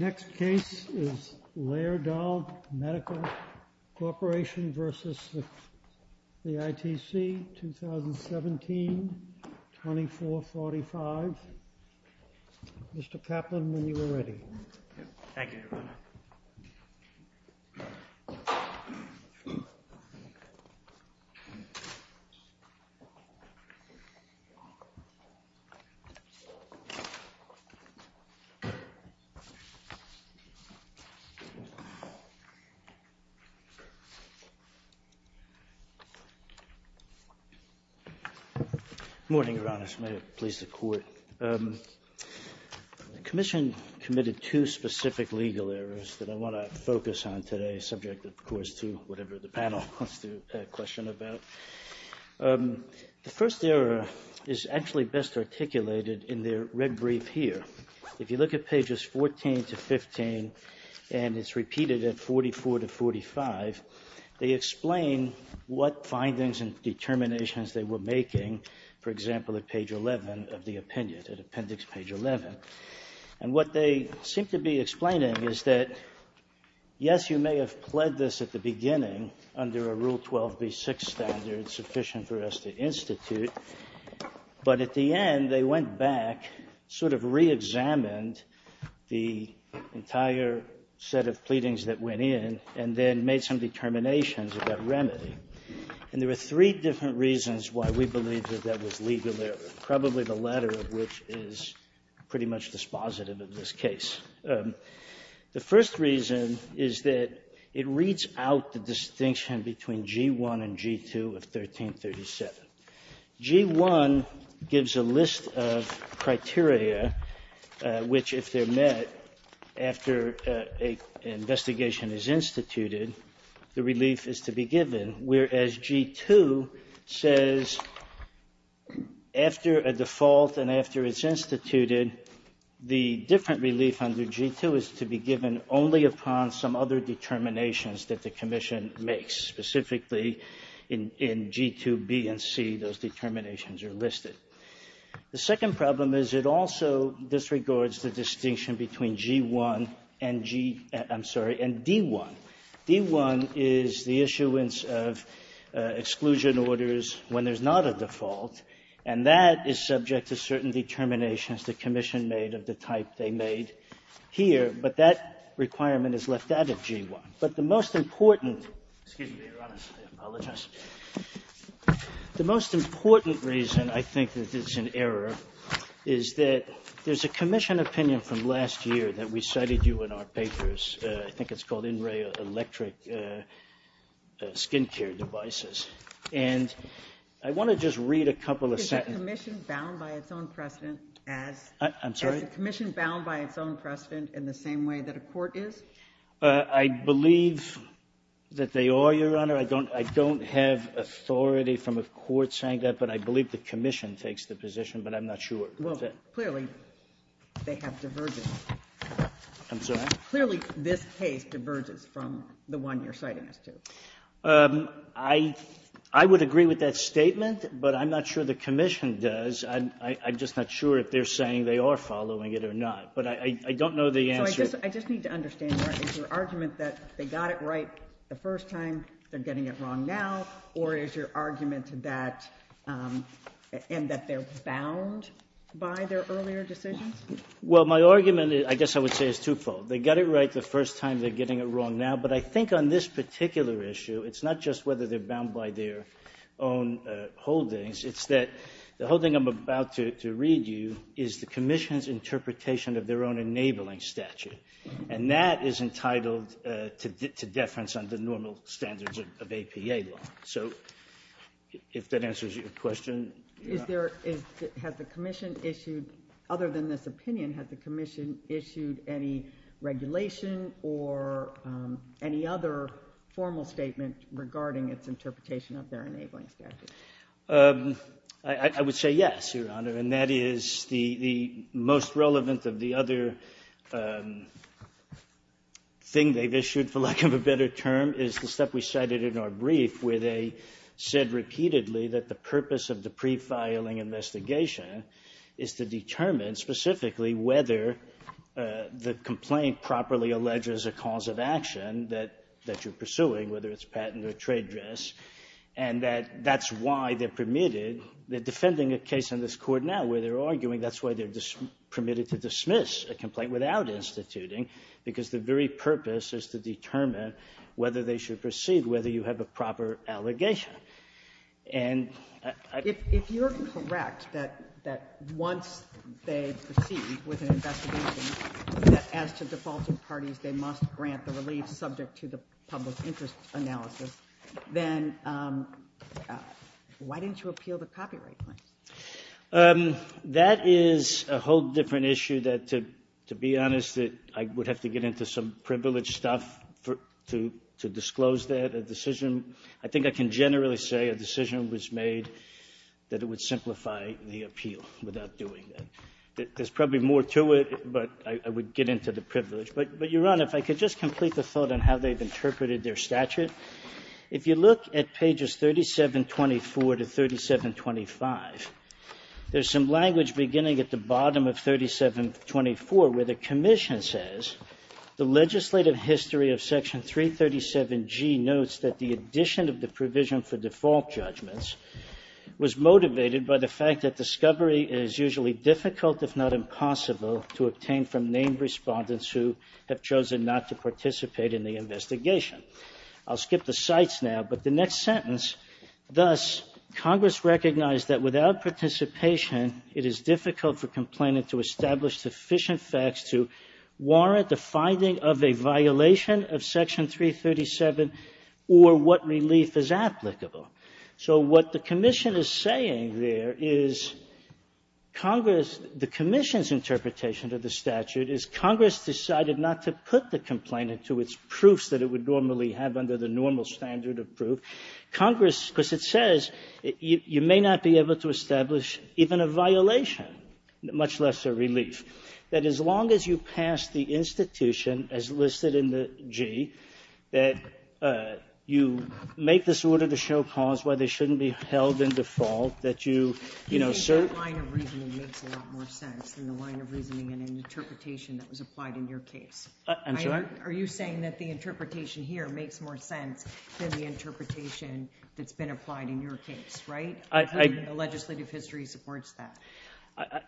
This video was made in Cooperation with the Ministry of Health and Welfare of the Republic of Kyrgyzstan. Next case is Laerdal Medical Corporation v. ITC, 2017, 2445. Mr. Kaplan, when you are ready. Good morning, Your Honors. May it please the Court. The Commission committed two specific legal errors that I want to focus on today, subject, of course, to whatever the panel wants to question about. The first error is actually best articulated in their red brief here. If you look at pages 14 to 15, and it's repeated at 44 to 45, they explain what findings and determinations they were making, for example, at page 11 of the opinion, at appendix page 11. And what they seem to be explaining is that, yes, you may have pled this at the beginning under a Rule 12b-6 standard sufficient for us to institute, but at the end they went back, sort of reexamined the entire set of pleadings that went in, and then made some determinations about remedy. And there were three different reasons why we believe that that was legal error, probably the latter of which is pretty much dispositive of this case. The first reason is that it reads out the distinction between G-1 and G-2 of 1337. G-1 gives a list of criteria which, if they're met after an investigation is instituted, the relief is to be given. Whereas G-2 says, after a default and after it's instituted, the different relief under G-2 is to be given only upon some other determinations that the commission makes, specifically in G-2b and c, those determinations are listed. The second problem is it also disregards the distinction between G-1 and G, I'm sorry, and D-1. D-1 is the issuance of exclusion orders when there's not a default, and that is subject to certain determinations the commission made of the type they made here. But that requirement is left out of G-1. But the most important — excuse me, Your Honor, I apologize. The most important reason I think that this is an error is that there's a commission opinion from last year that we cited you in our papers. I think it's called In Re Electric Skin Care Devices. And I want to just read a couple of sentences. Is the commission bound by its own precedent as — I'm sorry? Is the commission bound by its own precedent in the same way that a court is? I believe that they are, Your Honor. I don't have authority from a court saying that, but I believe the commission takes the position, but I'm not sure. Well, clearly, they have divergences. I'm sorry? Clearly, this case diverges from the one you're citing us to. I would agree with that statement, but I'm not sure the commission does. I'm just not sure if they're saying they are following it or not. But I don't know the answer. So I just need to understand, Your Honor, is your argument that they got it right the first time, they're getting it wrong now, or is your argument that — and that they're bound by their earlier decisions? Well, my argument, I guess I would say, is twofold. They got it right the first time, they're getting it wrong now. But I think on this particular issue, it's not just whether they're bound by their own holdings. It's that the whole thing I'm about to read you is the commission's interpretation of their own enabling statute. And that is entitled to deference under normal standards of APA law. So if that answers your question. Has the commission issued, other than this opinion, has the commission issued any regulation or any other formal statement regarding its interpretation of their enabling statute? I would say yes, Your Honor. And that is the most relevant of the other thing they've issued, for lack of a better term, is the stuff we cited in our brief where they said repeatedly that the purpose of the pre-filing investigation is to determine specifically whether the complaint properly alleges a cause of action that you're pursuing, whether it's patent or trade dress, and that that's why they're permitted. They're defending a case in this Court now where they're arguing that's why they're permitted to dismiss a complaint without instituting, because the very purpose is to determine whether they should proceed, whether you have a proper allegation. And I think you're correct that once they proceed with an investigation, that as to defaulting parties, they must grant the relief subject to the public interest analysis. Then why didn't you appeal the copyright claims? That is a whole different issue that, to be honest, I would have to get into some privileged stuff to disclose that. A decision, I think I can generally say a decision was made that it would simplify the appeal without doing that. There's probably more to it, but I would get into the privilege. But, Your Honor, if I could just complete the thought on how they've interpreted their statute. If you look at pages 3724 to 3725, there's some language beginning at the bottom of 3724 where the commission says, The legislative history of Section 337G notes that the addition of the provision for default judgments was motivated by the fact that discovery is usually difficult if not impossible to obtain from named respondents who have chosen not to participate in the investigation. I'll skip the cites now, but the next sentence, Thus, Congress recognized that without participation, it is difficult for complainant to establish sufficient facts to warrant the finding of a violation of Section 337 or what relief is applicable. So what the commission is saying there is Congress, the commission's interpretation of the statute is Congress decided not to put the complainant to its proofs that it would normally have under the normal standard of proof. Congress, because it says you may not be able to establish even a violation, much less a relief. That as long as you pass the institution as listed in the G, that you make this order to show cause why they shouldn't be held in default, that you, you know, sir. The line of reasoning makes a lot more sense than the line of reasoning and interpretation that was applied in your case. I'm sorry? Are you saying that the interpretation here makes more sense than the interpretation that's been applied in your case, right? I think the legislative history supports that.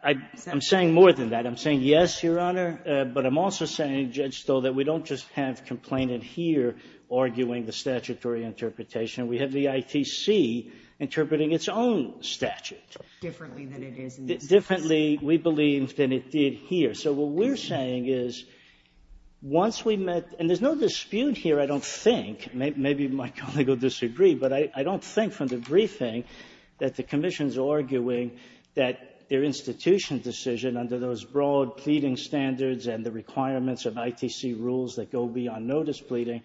I'm saying more than that. I'm saying yes, Your Honor. But I'm also saying, Judge Stoll, that we don't just have complainant here arguing the statutory interpretation. We have the ITC interpreting its own statute. Differently than it is in this case. Differently, we believe, than it did here. So what we're saying is once we met, and there's no dispute here, I don't think. Maybe my colleague will disagree, but I don't think from the briefing that the commission is arguing that their institution decision under those broad pleading standards and the requirements of ITC rules that go beyond notice pleading,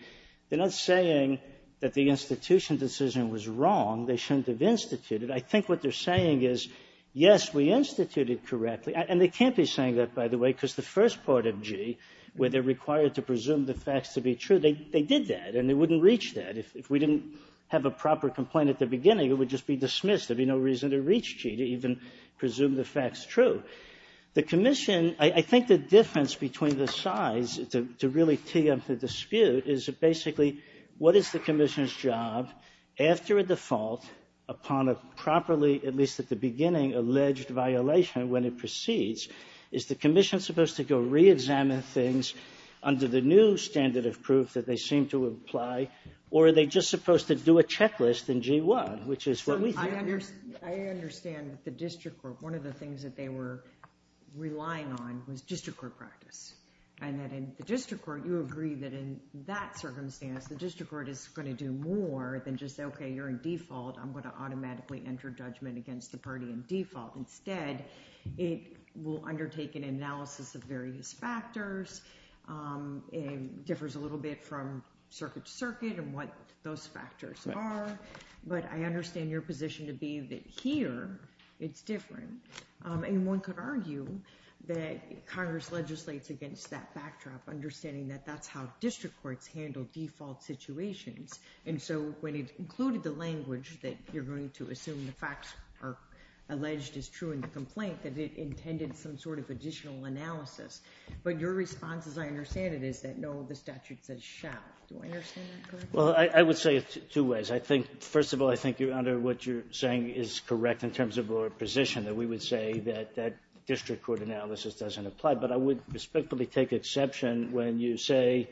they're not saying that the institution decision was wrong. They shouldn't have instituted. I think what they're saying is, yes, we instituted correctly. And they can't be saying that, by the way, because the first part of G, where they're required to presume the facts to be true, they did that, and they wouldn't reach that. If we didn't have a proper complaint at the beginning, it would just be dismissed. There would be no reason to reach G to even presume the facts true. The commission, I think the difference between the sides to really tee up the dispute is basically what is the commission's job after a default upon a properly, at least at the beginning, alleged violation when it proceeds? Is the commission supposed to go reexamine things under the new standard of proof that they seem to apply, or are they just supposed to do a checklist in G-1, which is what we hear? I understand that the district court, one of the things that they were relying on was district court practice, and that in the district court, you agree that in that circumstance, the district court is going to do more than just say, OK, you're in default. I'm going to automatically enter judgment against the party in default. Instead, it will undertake an analysis of various factors. It differs a little bit from circuit to circuit and what those factors are. But I understand your position to be that here, it's different. And one could argue that Congress legislates against that backdrop, understanding that that's how district courts handle default situations. And so when it included the language that you're going to assume the facts are alleged as true in the complaint, that it intended some sort of additional analysis. But your response, as I understand it, is that no, the statute says shall. Do I understand that correctly? Well, I would say it two ways. I think, first of all, I think, Your Honor, what you're saying is correct in terms of your position, that we would say that district court analysis doesn't apply. But I would respectfully take exception when you say,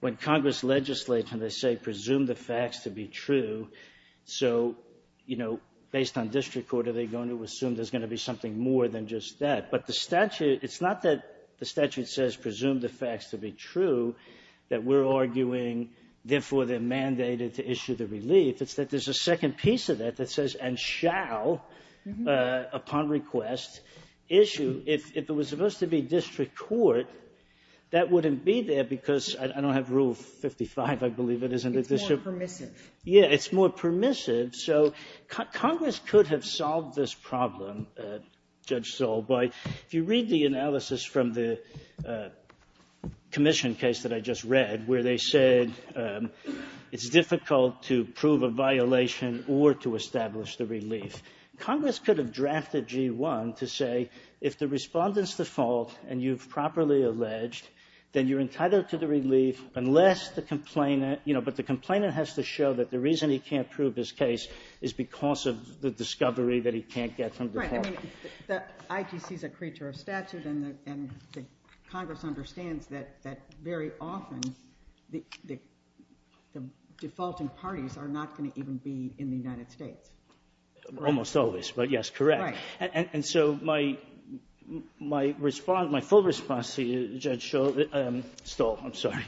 when Congress legislates and they say presume the facts to be true, so, you know, based on district court, are they going to assume there's going to be something more than just that? But the statute, it's not that the statute says presume the facts to be true, that we're arguing, therefore, they're mandated to issue the relief. It's that there's a second piece of that that says and shall, upon request, issue. If it was supposed to be district court, that wouldn't be there because I don't have Rule 55, I believe it is in the district. It's more permissive. Yeah, it's more permissive. So Congress could have solved this problem, Judge Sewell, by if you read the analysis from the commission case that I just read, where they said it's difficult to prove a violation or to establish the relief. Congress could have drafted G1 to say if the respondent's the fault and you've properly alleged, then you're entitled to the relief unless the complainant, you know, but the complainant has to show that the reason he can't prove his case is because of the discovery that he can't get from the department. Right. I mean, the IGC is a creature of statute and the Congress understands that very often the defaulting parties are not going to even be in the United States. Almost always, but yes, correct. Right. And so my response, my full response to you, Judge Sewell, Stoll, I'm sorry,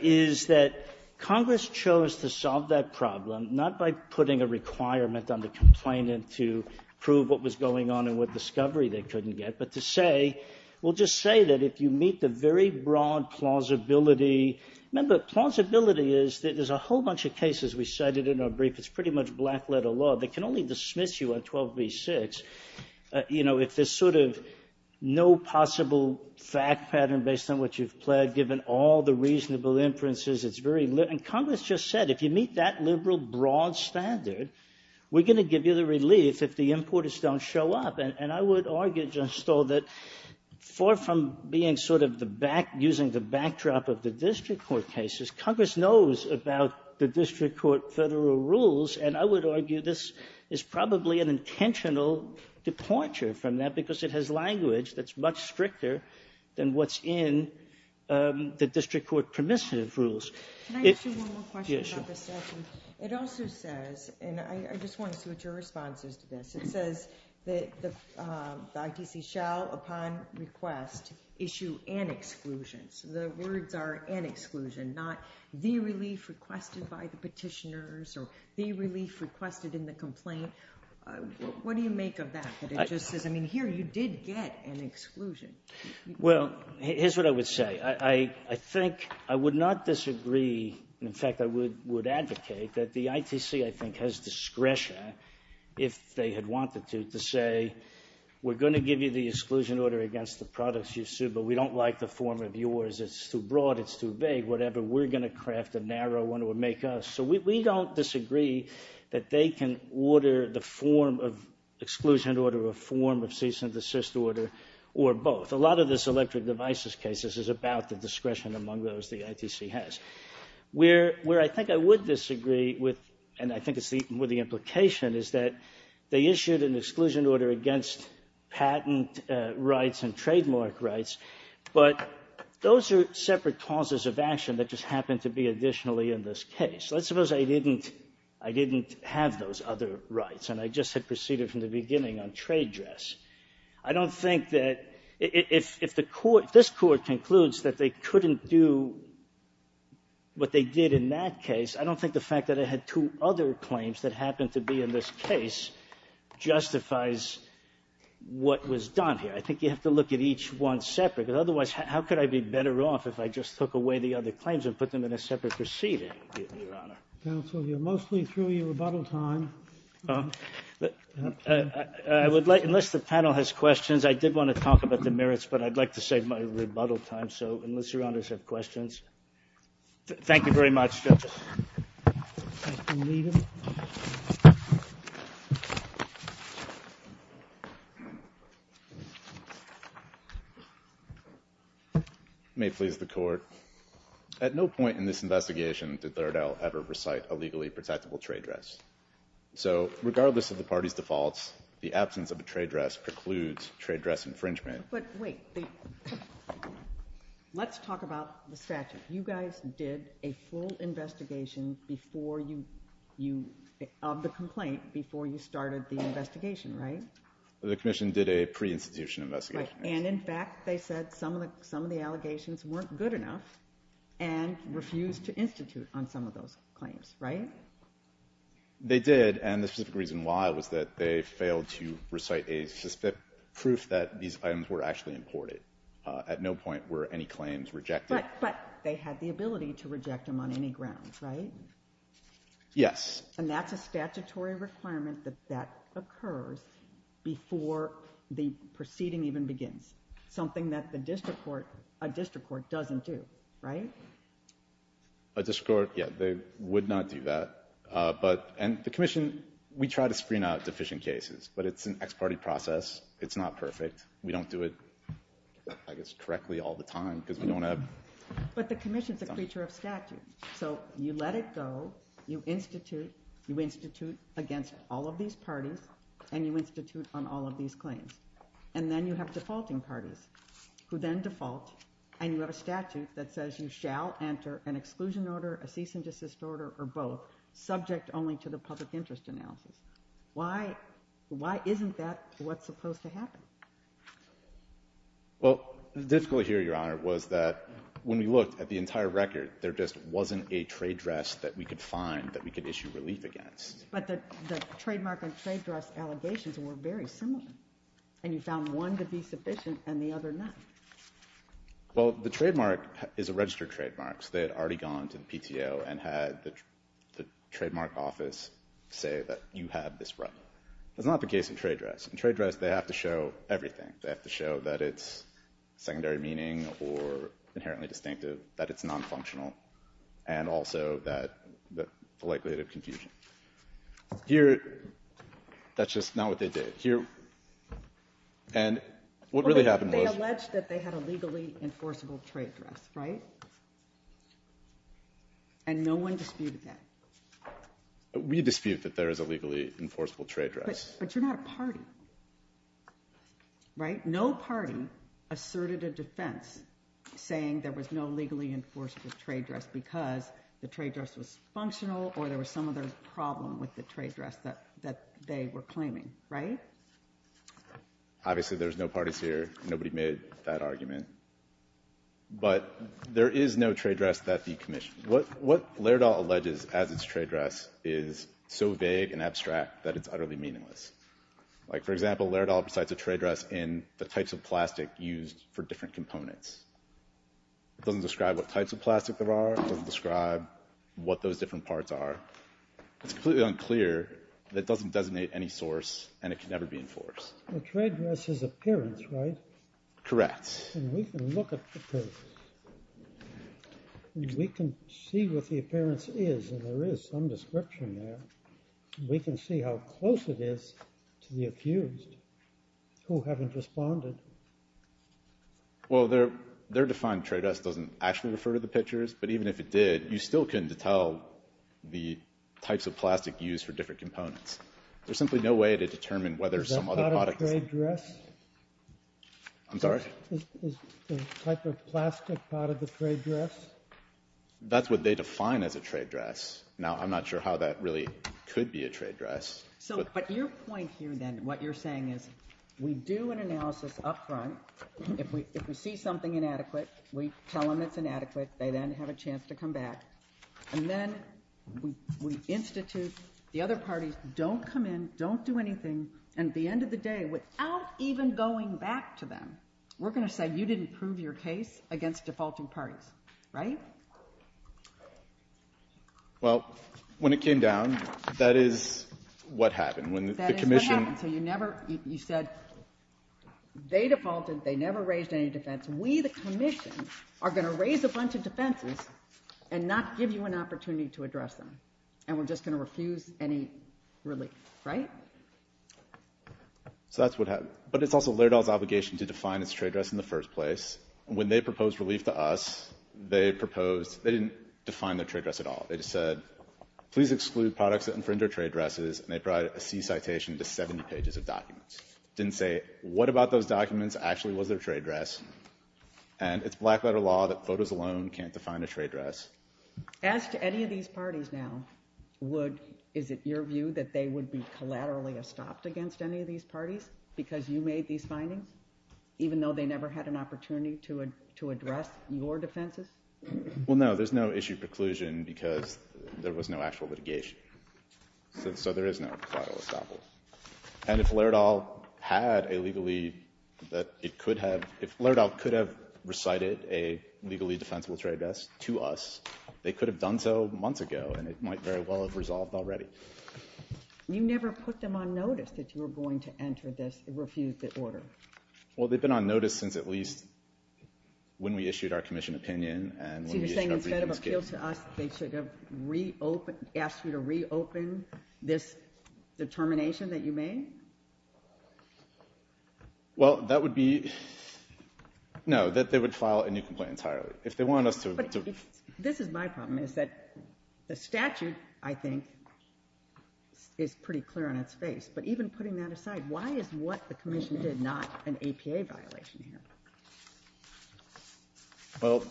is that Congress chose to solve that problem not by putting a requirement on the complainant to prove what was going on and what discovery they couldn't get, but to say, well, just say that if you meet the very broad plausibility. Remember, plausibility is that there's a whole bunch of cases. We cited it in our brief. It's pretty much black-letter law. They can only dismiss you on 12b-6, you know, if there's sort of no possible fact pattern based on what you've pled, given all the reasonable inferences. It's very—and Congress just said if you meet that liberal broad standard, we're going to give you the relief if the importers don't show up. And I would argue, Judge Stoll, that far from being sort of the back—using the backdrop of the district court cases, Congress knows about the district court federal rules, and I would argue this is probably an intentional departure from that because it has language that's much stricter than what's in the district court permissive rules. Yes, sure. It also says—and I just want to see what your response is to this. It says that the ITC shall, upon request, issue an exclusion. So the words are an exclusion, not the relief requested by the petitioners or the relief requested in the complaint. What do you make of that? It just says, I mean, here you did get an exclusion. Well, here's what I would say. I think—I would not disagree—in fact, I would advocate that the ITC, I think, has discretion, if they had wanted to, to say, we're going to give you the exclusion order against the products you sue, but we don't like the form of yours. It's too broad. It's too big. Whatever. We're going to craft a narrow one or make us. So we don't disagree that they can order the form of exclusion order or form of cease and desist order or both. A lot of this electric devices case, this is about the discretion among those the ITC has. Where I think I would disagree with, and I think it's more the implication, is that they issued an exclusion order against patent rights and trademark rights, but those are separate causes of action that just happen to be additionally in this case. Let's suppose I didn't have those other rights and I just had proceeded from the beginning on trade dress. I don't think that if the Court, if this Court concludes that they couldn't do what they did in that case, I don't think the fact that I had two other claims that happened to be in this case justifies what was done here. I think you have to look at each one separate. Otherwise, how could I be better off if I just took away the other claims and put them in a separate proceeding, Your Honor? Counsel, you're mostly through your rebuttal time. I would like, unless the panel has questions, I did want to talk about the merits, but I'd like to save my rebuttal time. So unless Your Honors have questions. Thank you very much, judges. Thank you, Leader. May it please the Court. At no point in this investigation did Lardell ever recite a legally protectable trade dress. So regardless of the party's defaults, the absence of a trade dress precludes trade dress infringement. But wait. Let's talk about the statute. You guys did a full investigation before you, of the complaint, before you started the investigation, right? The Commission did a pre-institution investigation. Right. And, in fact, they said some of the allegations weren't good enough and refused to institute on some of those claims, right? They did, and the specific reason why was that they failed to recite a specific proof that these items were actually imported. At no point were any claims rejected. But they had the ability to reject them on any grounds, right? Yes. And that's a statutory requirement that that occurs before the proceeding even begins, something that the district court, a district court doesn't do, right? A district court, yeah, they would not do that. But, and the Commission, we try to screen out deficient cases, but it's an ex parte process. It's not perfect. We don't do it, I guess, correctly all the time because we don't have... But the Commission's a creature of statute. So you let it go, you institute, you institute against all of these parties, and you institute on all of these claims. And then you have defaulting parties who then default, and you have a statute that says you shall enter an exclusion order, a cease and desist order, or both, subject only to the public interest analysis. Why, why isn't that what's supposed to happen? Well, the difficulty here, Your Honor, was that when we looked at the entire record, there just wasn't a trade dress that we could find that we could issue relief against. But the trademark and trade dress allegations were very similar. And you found one to be sufficient and the other not. Well, the trademark is a registered trademark, so they had already gone to the PTO and had the trademark office say that you have this right. That's not the case in trade dress. In trade dress, they have to show everything. They have to show that it's secondary meaning or inherently distinctive, that it's nonfunctional, and also that the likelihood of confusion. Here, that's just not what they did. Here, and what really happened was— They alleged that they had a legally enforceable trade dress, right? And no one disputed that? We dispute that there is a legally enforceable trade dress. But you're not a party, right? No party asserted a defense saying there was no legally enforceable trade dress because the trade dress was functional or there was some other problem with the trade dress that they were claiming, right? Obviously, there's no parties here. Nobody made that argument. But there is no trade dress that the Commission— What Laerdal alleges as its trade dress is so vague and abstract that it's utterly meaningless. Like, for example, Laerdal cites a trade dress in the types of plastic used for different components. It doesn't describe what types of plastic there are. It doesn't describe what those different parts are. It's completely unclear. It doesn't designate any source, and it can never be enforced. The trade dress is appearance, right? Correct. And we can look at the pictures. We can see what the appearance is, and there is some description there. We can see how close it is to the accused who haven't responded. Well, their defined trade dress doesn't actually refer to the pictures, but even if it did, you still couldn't tell the types of plastic used for different components. There's simply no way to determine whether some other product— Is that not a trade dress? I'm sorry? Is the type of plastic part of the trade dress? That's what they define as a trade dress. Now, I'm not sure how that really could be a trade dress. But your point here, then, what you're saying is we do an analysis up front. If we see something inadequate, we tell them it's inadequate. They then have a chance to come back. And then we institute—the other parties don't come in, don't do anything, and at the end of the day, without even going back to them, we're going to say you didn't prove your case against defaulting parties, right? Well, when it came down, that is what happened. That is what happened. So you never—you said they defaulted, they never raised any defense. We, the Commission, are going to raise a bunch of defenses and not give you an opportunity to address them. And we're just going to refuse any relief, right? So that's what happened. But it's also Laerdal's obligation to define its trade dress in the first place. When they proposed relief to us, they proposed—they didn't define their trade dress at all. They just said, please exclude products that infringe our trade dresses, and they brought a C citation to 70 pages of documents. Didn't say what about those documents actually was their trade dress. And it's black-letter law that photos alone can't define a trade dress. As to any of these parties now, would— is it your view that they would be collaterally estopped against any of these parties because you made these findings, even though they never had an opportunity to address your defenses? Well, no. There's no issue preclusion because there was no actual litigation. So there is no collateral estoppel. And if Laerdal had a legally—that it could have— a legally defensible trade dress to us, they could have done so months ago, and it might very well have resolved already. You never put them on notice that you were going to enter this—refuse the order. Well, they've been on notice since at least when we issued our commission opinion and— So you're saying instead of appeal to us, they should have reopened—asked you to reopen this determination that you made? Well, that would be—no, that they would file a new complaint entirely. If they wanted us to— But this is my problem, is that the statute, I think, is pretty clear on its face. But even putting that aside, why is what the commission did not an APA violation here? Well,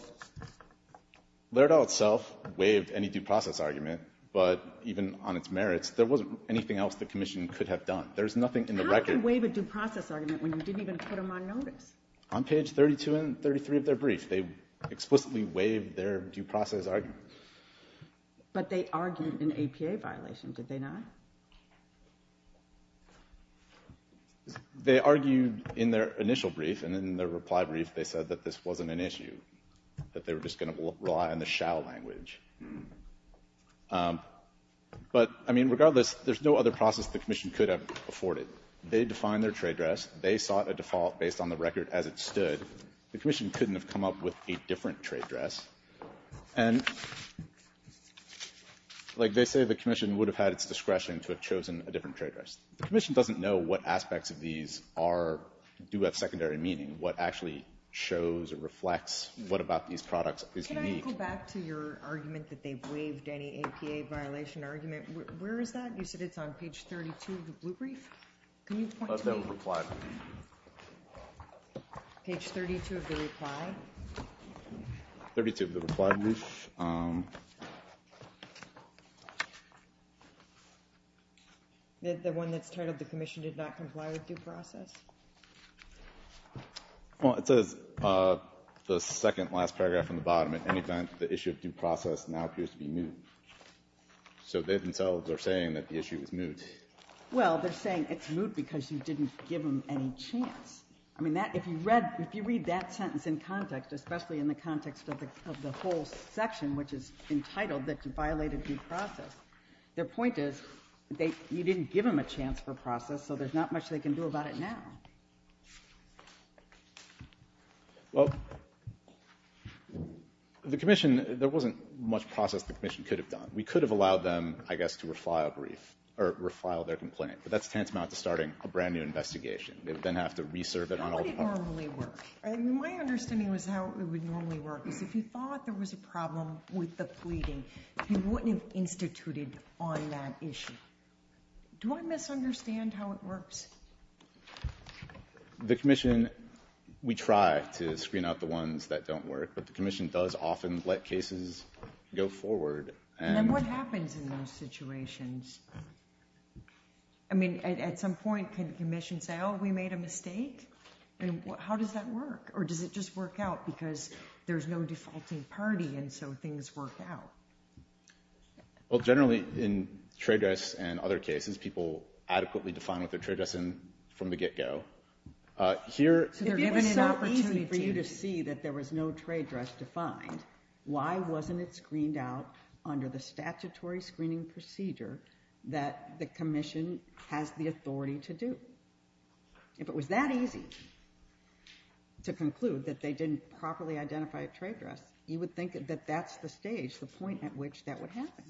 Laerdal itself waived any due process argument. But even on its merits, there wasn't anything else the commission could have done. There's nothing in the record— How can you waive a due process argument when you didn't even put them on notice? On page 32 and 33 of their brief, they explicitly waived their due process argument. But they argued an APA violation, did they not? They argued in their initial brief, and in their reply brief, they said that this wasn't an issue, that they were just going to rely on the shall language. But, I mean, regardless, there's no other process the commission could have afforded. They defined their trade dress. They sought a default based on the record as it stood. The commission couldn't have come up with a different trade dress. And, like they say, the commission would have had its discretion to have chosen a different trade dress. The commission doesn't know what aspects of these are—do have secondary meaning, what actually shows or reflects what about these products is unique. Can you go back to your argument that they waived any APA violation argument? Where is that? You said it's on page 32 of the blue brief? Can you point to it? That's in the reply brief. Page 32 of the reply? 32 of the reply brief. The one that's titled, the commission did not comply with due process? Well, it says, the second last paragraph on the bottom, at any time the issue of due process now appears to be moot. So they themselves are saying that the issue is moot. Well, they're saying it's moot because you didn't give them any chance. I mean, if you read that sentence in context, especially in the context of the whole section, which is entitled that you violated due process, their point is you didn't give them a chance for process, so there's not much they can do about it now. Well, the commission, there wasn't much process the commission could have done. We could have allowed them, I guess, to refile their complaint. But that's tantamount to starting a brand-new investigation. They would then have to re-serve it on all departments. How would it normally work? My understanding was how it would normally work, is if you thought there was a problem with the pleading, you wouldn't have instituted on that issue. Do I misunderstand how it works? The commission, we try to screen out the ones that don't work, but the commission does often let cases go forward. And what happens in those situations? I mean, at some point, can the commission say, oh, we made a mistake? How does that work? Or does it just work out because there's no defaulting party, and so things work out? Well, generally, in trade dress and other cases, people adequately define what they're trade dressing from the get-go. Here, it was so easy for you to see that there was no trade dress defined. Why wasn't it screened out under the statutory screening procedure that the commission has the authority to do? If it was that easy to conclude that they didn't properly identify a trade dress, you would think that that's the stage, the point at which that would happen.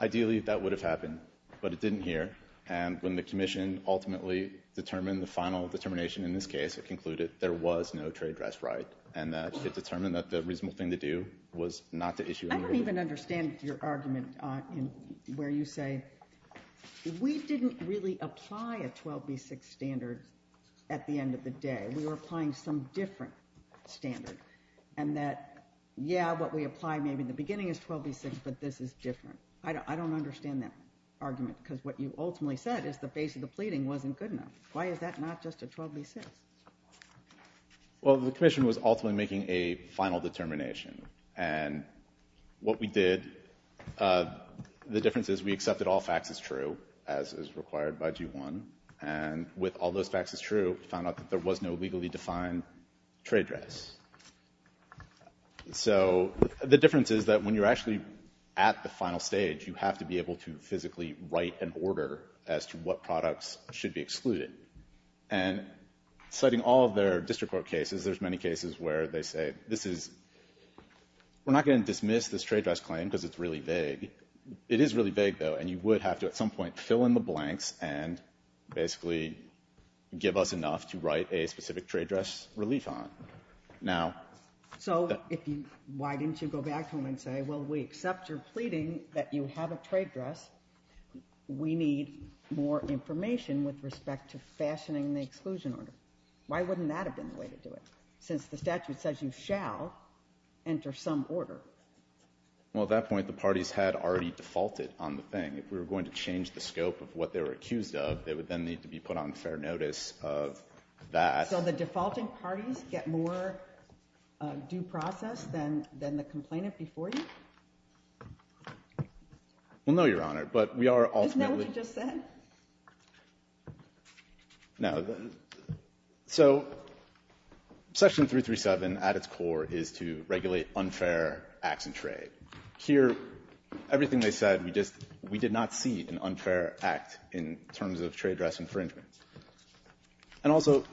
Ideally, that would have happened, but it didn't here. And when the commission ultimately determined the final determination, in this case, it concluded there was no trade dress right, and that it determined that the reasonable thing to do was not to issue an order. I don't even understand your argument where you say, we didn't really apply a 12B6 standard at the end of the day. We were applying some different standard, and that, yeah, what we applied maybe at the beginning is 12B6, but this is different. I don't understand that argument, because what you ultimately said is the base of the pleading wasn't good enough. Why is that not just a 12B6? Well, the commission was ultimately making a final determination, and what we did, the difference is we accepted all facts as true, as is required by G1, and with all those facts as true, we found out that there was no legally defined trade dress. So the difference is that when you're actually at the final stage, you have to be able to physically write an order as to what products should be excluded. And citing all of their district court cases, there's many cases where they say, this is, we're not going to dismiss this trade dress claim because it's really vague. It is really vague, though, and you would have to at some point fill in the blanks and basically give us enough to write a specific trade dress relief on. So why didn't you go back to them and say, well, we accept your pleading that you have a trade dress. We need more information with respect to fashioning the exclusion order. Why wouldn't that have been the way to do it, since the statute says you shall enter some order? Well, at that point, the parties had already defaulted on the thing. If we were going to change the scope of what they were accused of, they would then need to be put on fair notice of that. So the defaulting parties get more due process than the complainant before you? Well, no, Your Honor, but we are ultimately – Isn't that what you just said? No. So Section 337 at its core is to regulate unfair acts in trade. Here, everything they said, we just – we did not see an unfair act in terms of trade dress infringement. And also,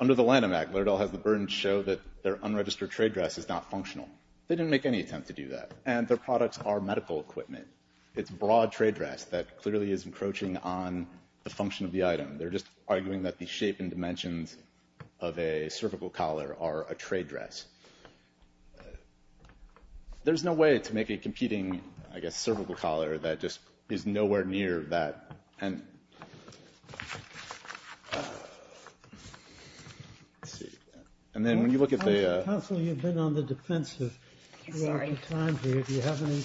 under the Lanham Act, Lerdal has the burden to show that their unregistered trade dress is not functional. They didn't make any attempt to do that, and their products are medical equipment. It's broad trade dress that clearly is encroaching on the function of the item. They're just arguing that the shape and dimensions of a cervical collar are a trade dress. There's no way to make a competing, I guess, cervical collar that just is nowhere near that. And then when you look at the – Counsel, you've been on the defensive. I'm sorry. Do you have any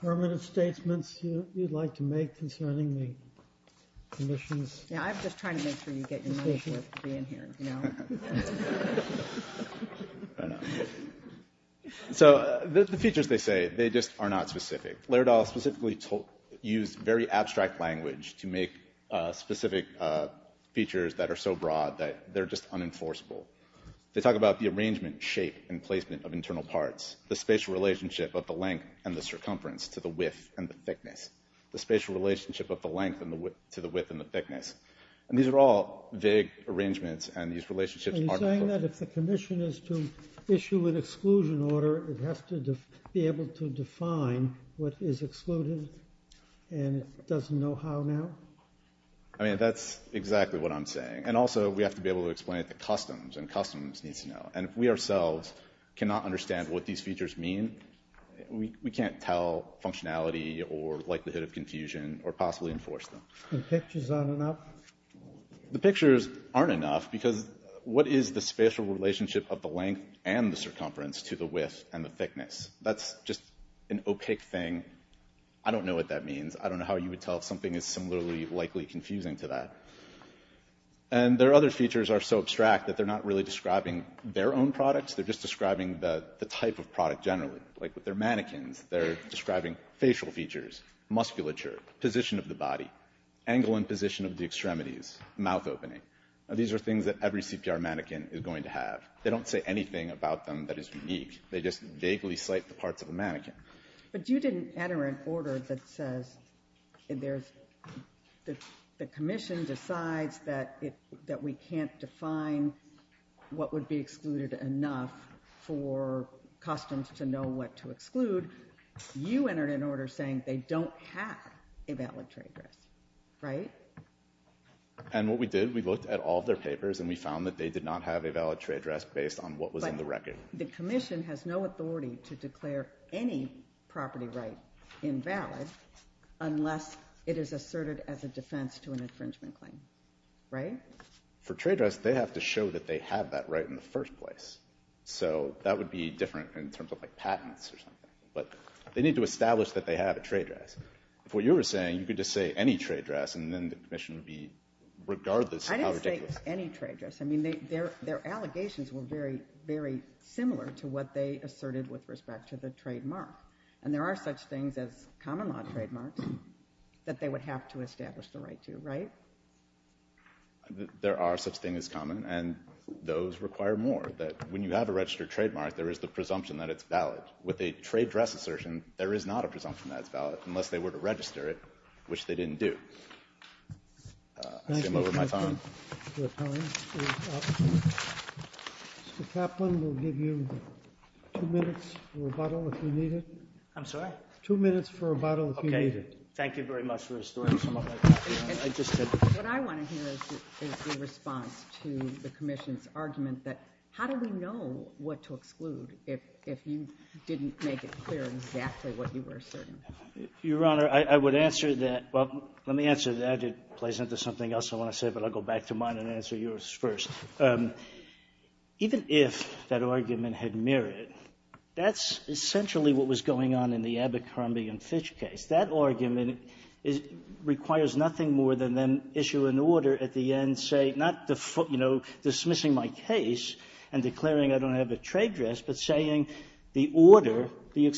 permanent statements you'd like to make concerning the commissions? Yeah, I'm just trying to make sure you get your notion of being here. So the features they say, they just are not specific. Lerdal specifically used very abstract language to make specific features that are so broad that they're just unenforceable. They talk about the arrangement, shape, and placement of internal parts, the spatial relationship of the length and the circumference to the width and the thickness, the spatial relationship of the length to the width and the thickness. And these are all vague arrangements, and these relationships are – Are you saying that if the commission is to issue an exclusion order, it has to be able to define what is excluded, and it doesn't know how now? I mean, that's exactly what I'm saying. And also, we have to be able to explain it to customs, and customs needs to know. And if we ourselves cannot understand what these features mean, we can't tell functionality or likelihood of confusion or possibly enforce them. And pictures aren't enough? The pictures aren't enough, because what is the spatial relationship of the length and the circumference to the width and the thickness? That's just an opaque thing. I don't know what that means. I don't know how you would tell if something is similarly likely confusing to that. And their other features are so abstract that they're not really describing their own products. They're just describing the type of product generally. Like with their mannequins, they're describing facial features, musculature, position of the body, angle and position of the extremities, mouth opening. These are things that every CPR mannequin is going to have. They don't say anything about them that is unique. They just vaguely cite the parts of the mannequin. But you didn't enter an order that says the commission decides that we can't define what would be excluded enough for customs to know what to exclude. You entered an order saying they don't have a valid trade dress. Right? And what we did, we looked at all their papers and we found that they did not have a valid trade dress based on what was in the record. But the commission has no authority to declare any property right invalid unless it is asserted as a defense to an infringement claim. Right? For trade dress, they have to show that they have that right in the first place. So that would be different in terms of like patents or something. But they need to establish that they have a trade dress. If what you were saying, you could just say any trade dress and then the commission would be regardless how ridiculous. I didn't say any trade dress. I mean, their allegations were very, very similar to what they asserted with respect to the trademark. And there are such things as common law trademarks that they would have to establish the right to. Right? There are such things as common and those require more that when you have a registered trademark, there is the presumption that it's valid. With a trade dress assertion, there is not a presumption that it's valid unless they were to register it, which they didn't do. I'm over my time. Your time is up. Mr. Kaplan, we'll give you two minutes for rebuttal if you need it. I'm sorry? Two minutes for rebuttal if you need it. Okay. Thank you very much for restoring some of my time. What I want to hear is the response to the commission's argument that how do we know what to exclude if you didn't make it clear exactly what you were asserting? Your Honor, I would answer that. Well, let me answer that. It plays into something else I want to say, but I'll go back to mine and answer yours first. Even if that argument had mirrored, that's essentially what was going on in the Abercrombie and Fitch case. That argument requires nothing more than then issue an order at the end, say, not dismissing my case and declaring I don't have a trade dress, but saying the order, the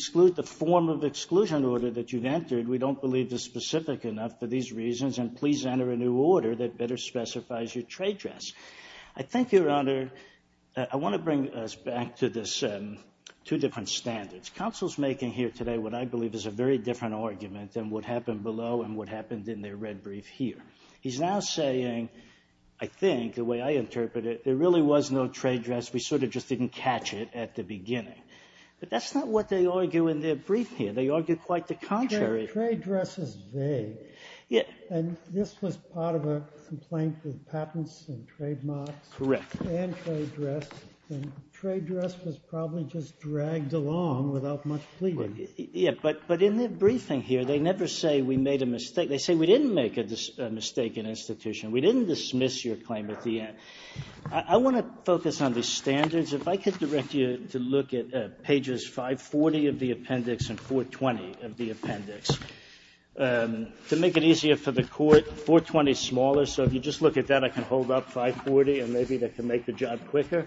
form of exclusion order that you've entered, we don't believe is specific enough for these reasons, and please enter a new order that better specifies your trade dress. I think, Your Honor, I want to bring us back to this two different standards. Counsel's making here today what I believe is a very different argument than what happened below and what happened in their red brief here. He's now saying, I think, the way I interpret it, there really was no trade dress. We sort of just didn't catch it at the beginning. But that's not what they argue in their brief here. They argue quite the contrary. Trade dress is vague. And this was part of a complaint with patents and trademarks and trade dress, was probably just dragged along without much pleading. But in their briefing here, they never say we made a mistake. They say we didn't make a mistake in institution. We didn't dismiss your claim at the end. I want to focus on the standards. If I could direct you to look at pages 540 of the appendix and 420 of the appendix to make it easier for the Court. 420 is smaller, so if you just look at that, I can hold up 540, and maybe that can make the job quicker.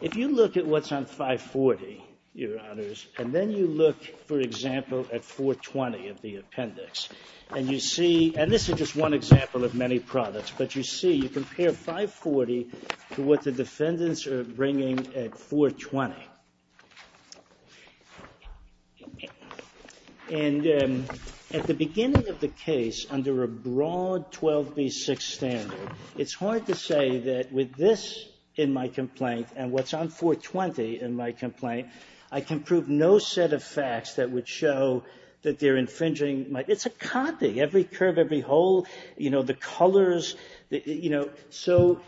If you look at what's on 540, Your Honors, and then you look, for example, at 420 of the appendix, and you see, and this is just one example of many products, but you see, you compare 540 to what the defendants are bringing at 420. And at the beginning of the case, under a broad 12B6 standard, it's hard to say that with this in my complaint and what's on 420 in my complaint, I can prove no set of facts that would show that they're infringing my, it's a condi, every curve, every hole, you know, the colors, you know. So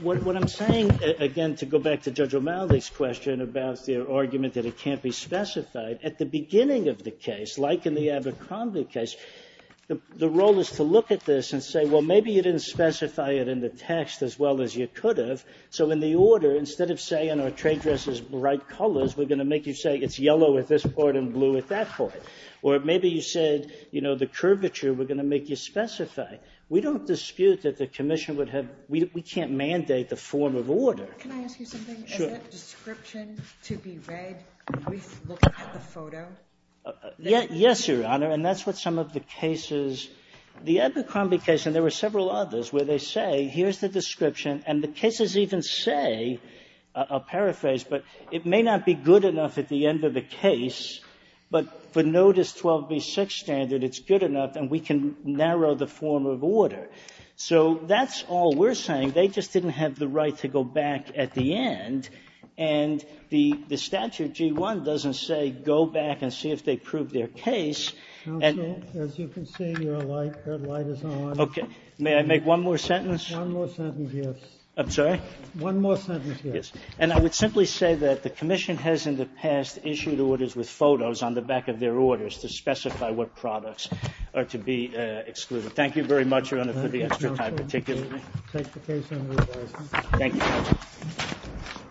what I'm saying, again, to go back to Judge O'Malley's question about the argument that it can't be specified, at the beginning of the case, like in the Abercrombie case, the role is to look at this and say, well, maybe you didn't specify it in the text as well as you could have, so in the order, instead of saying, our trade dress is bright colors, we're going to make you say it's yellow at this part and blue at that part. Or maybe you said, you know, the curvature, we're going to make you specify. We don't dispute that the commission would have, we can't mandate the form of order. Can I ask you something? Sure. Is that description to be read when we look at the photo? Yes, Your Honor. And that's what some of the cases, the Abercrombie case, and there were several others, where they say, here's the description and the cases even say, I'll paraphrase, but it may not be good enough at the end of the case, but for notice 12b6 standard, it's good enough, and we can narrow the form of order. So that's all we're saying. They just didn't have the right to go back at the end. And the statute, G1, doesn't say, go back and see if they prove their case. Counsel, as you can see, your light, that light is on. Okay. May I make one more sentence? One more sentence, yes. I'm sorry? One more sentence, yes. Yes. And I would simply say that the commission has in the past issued orders with photos on the back of their orders to specify what products are to be excluded. Thank you very much, Your Honor, for the extra time, particularly. Take the case under review. Thank you, counsel.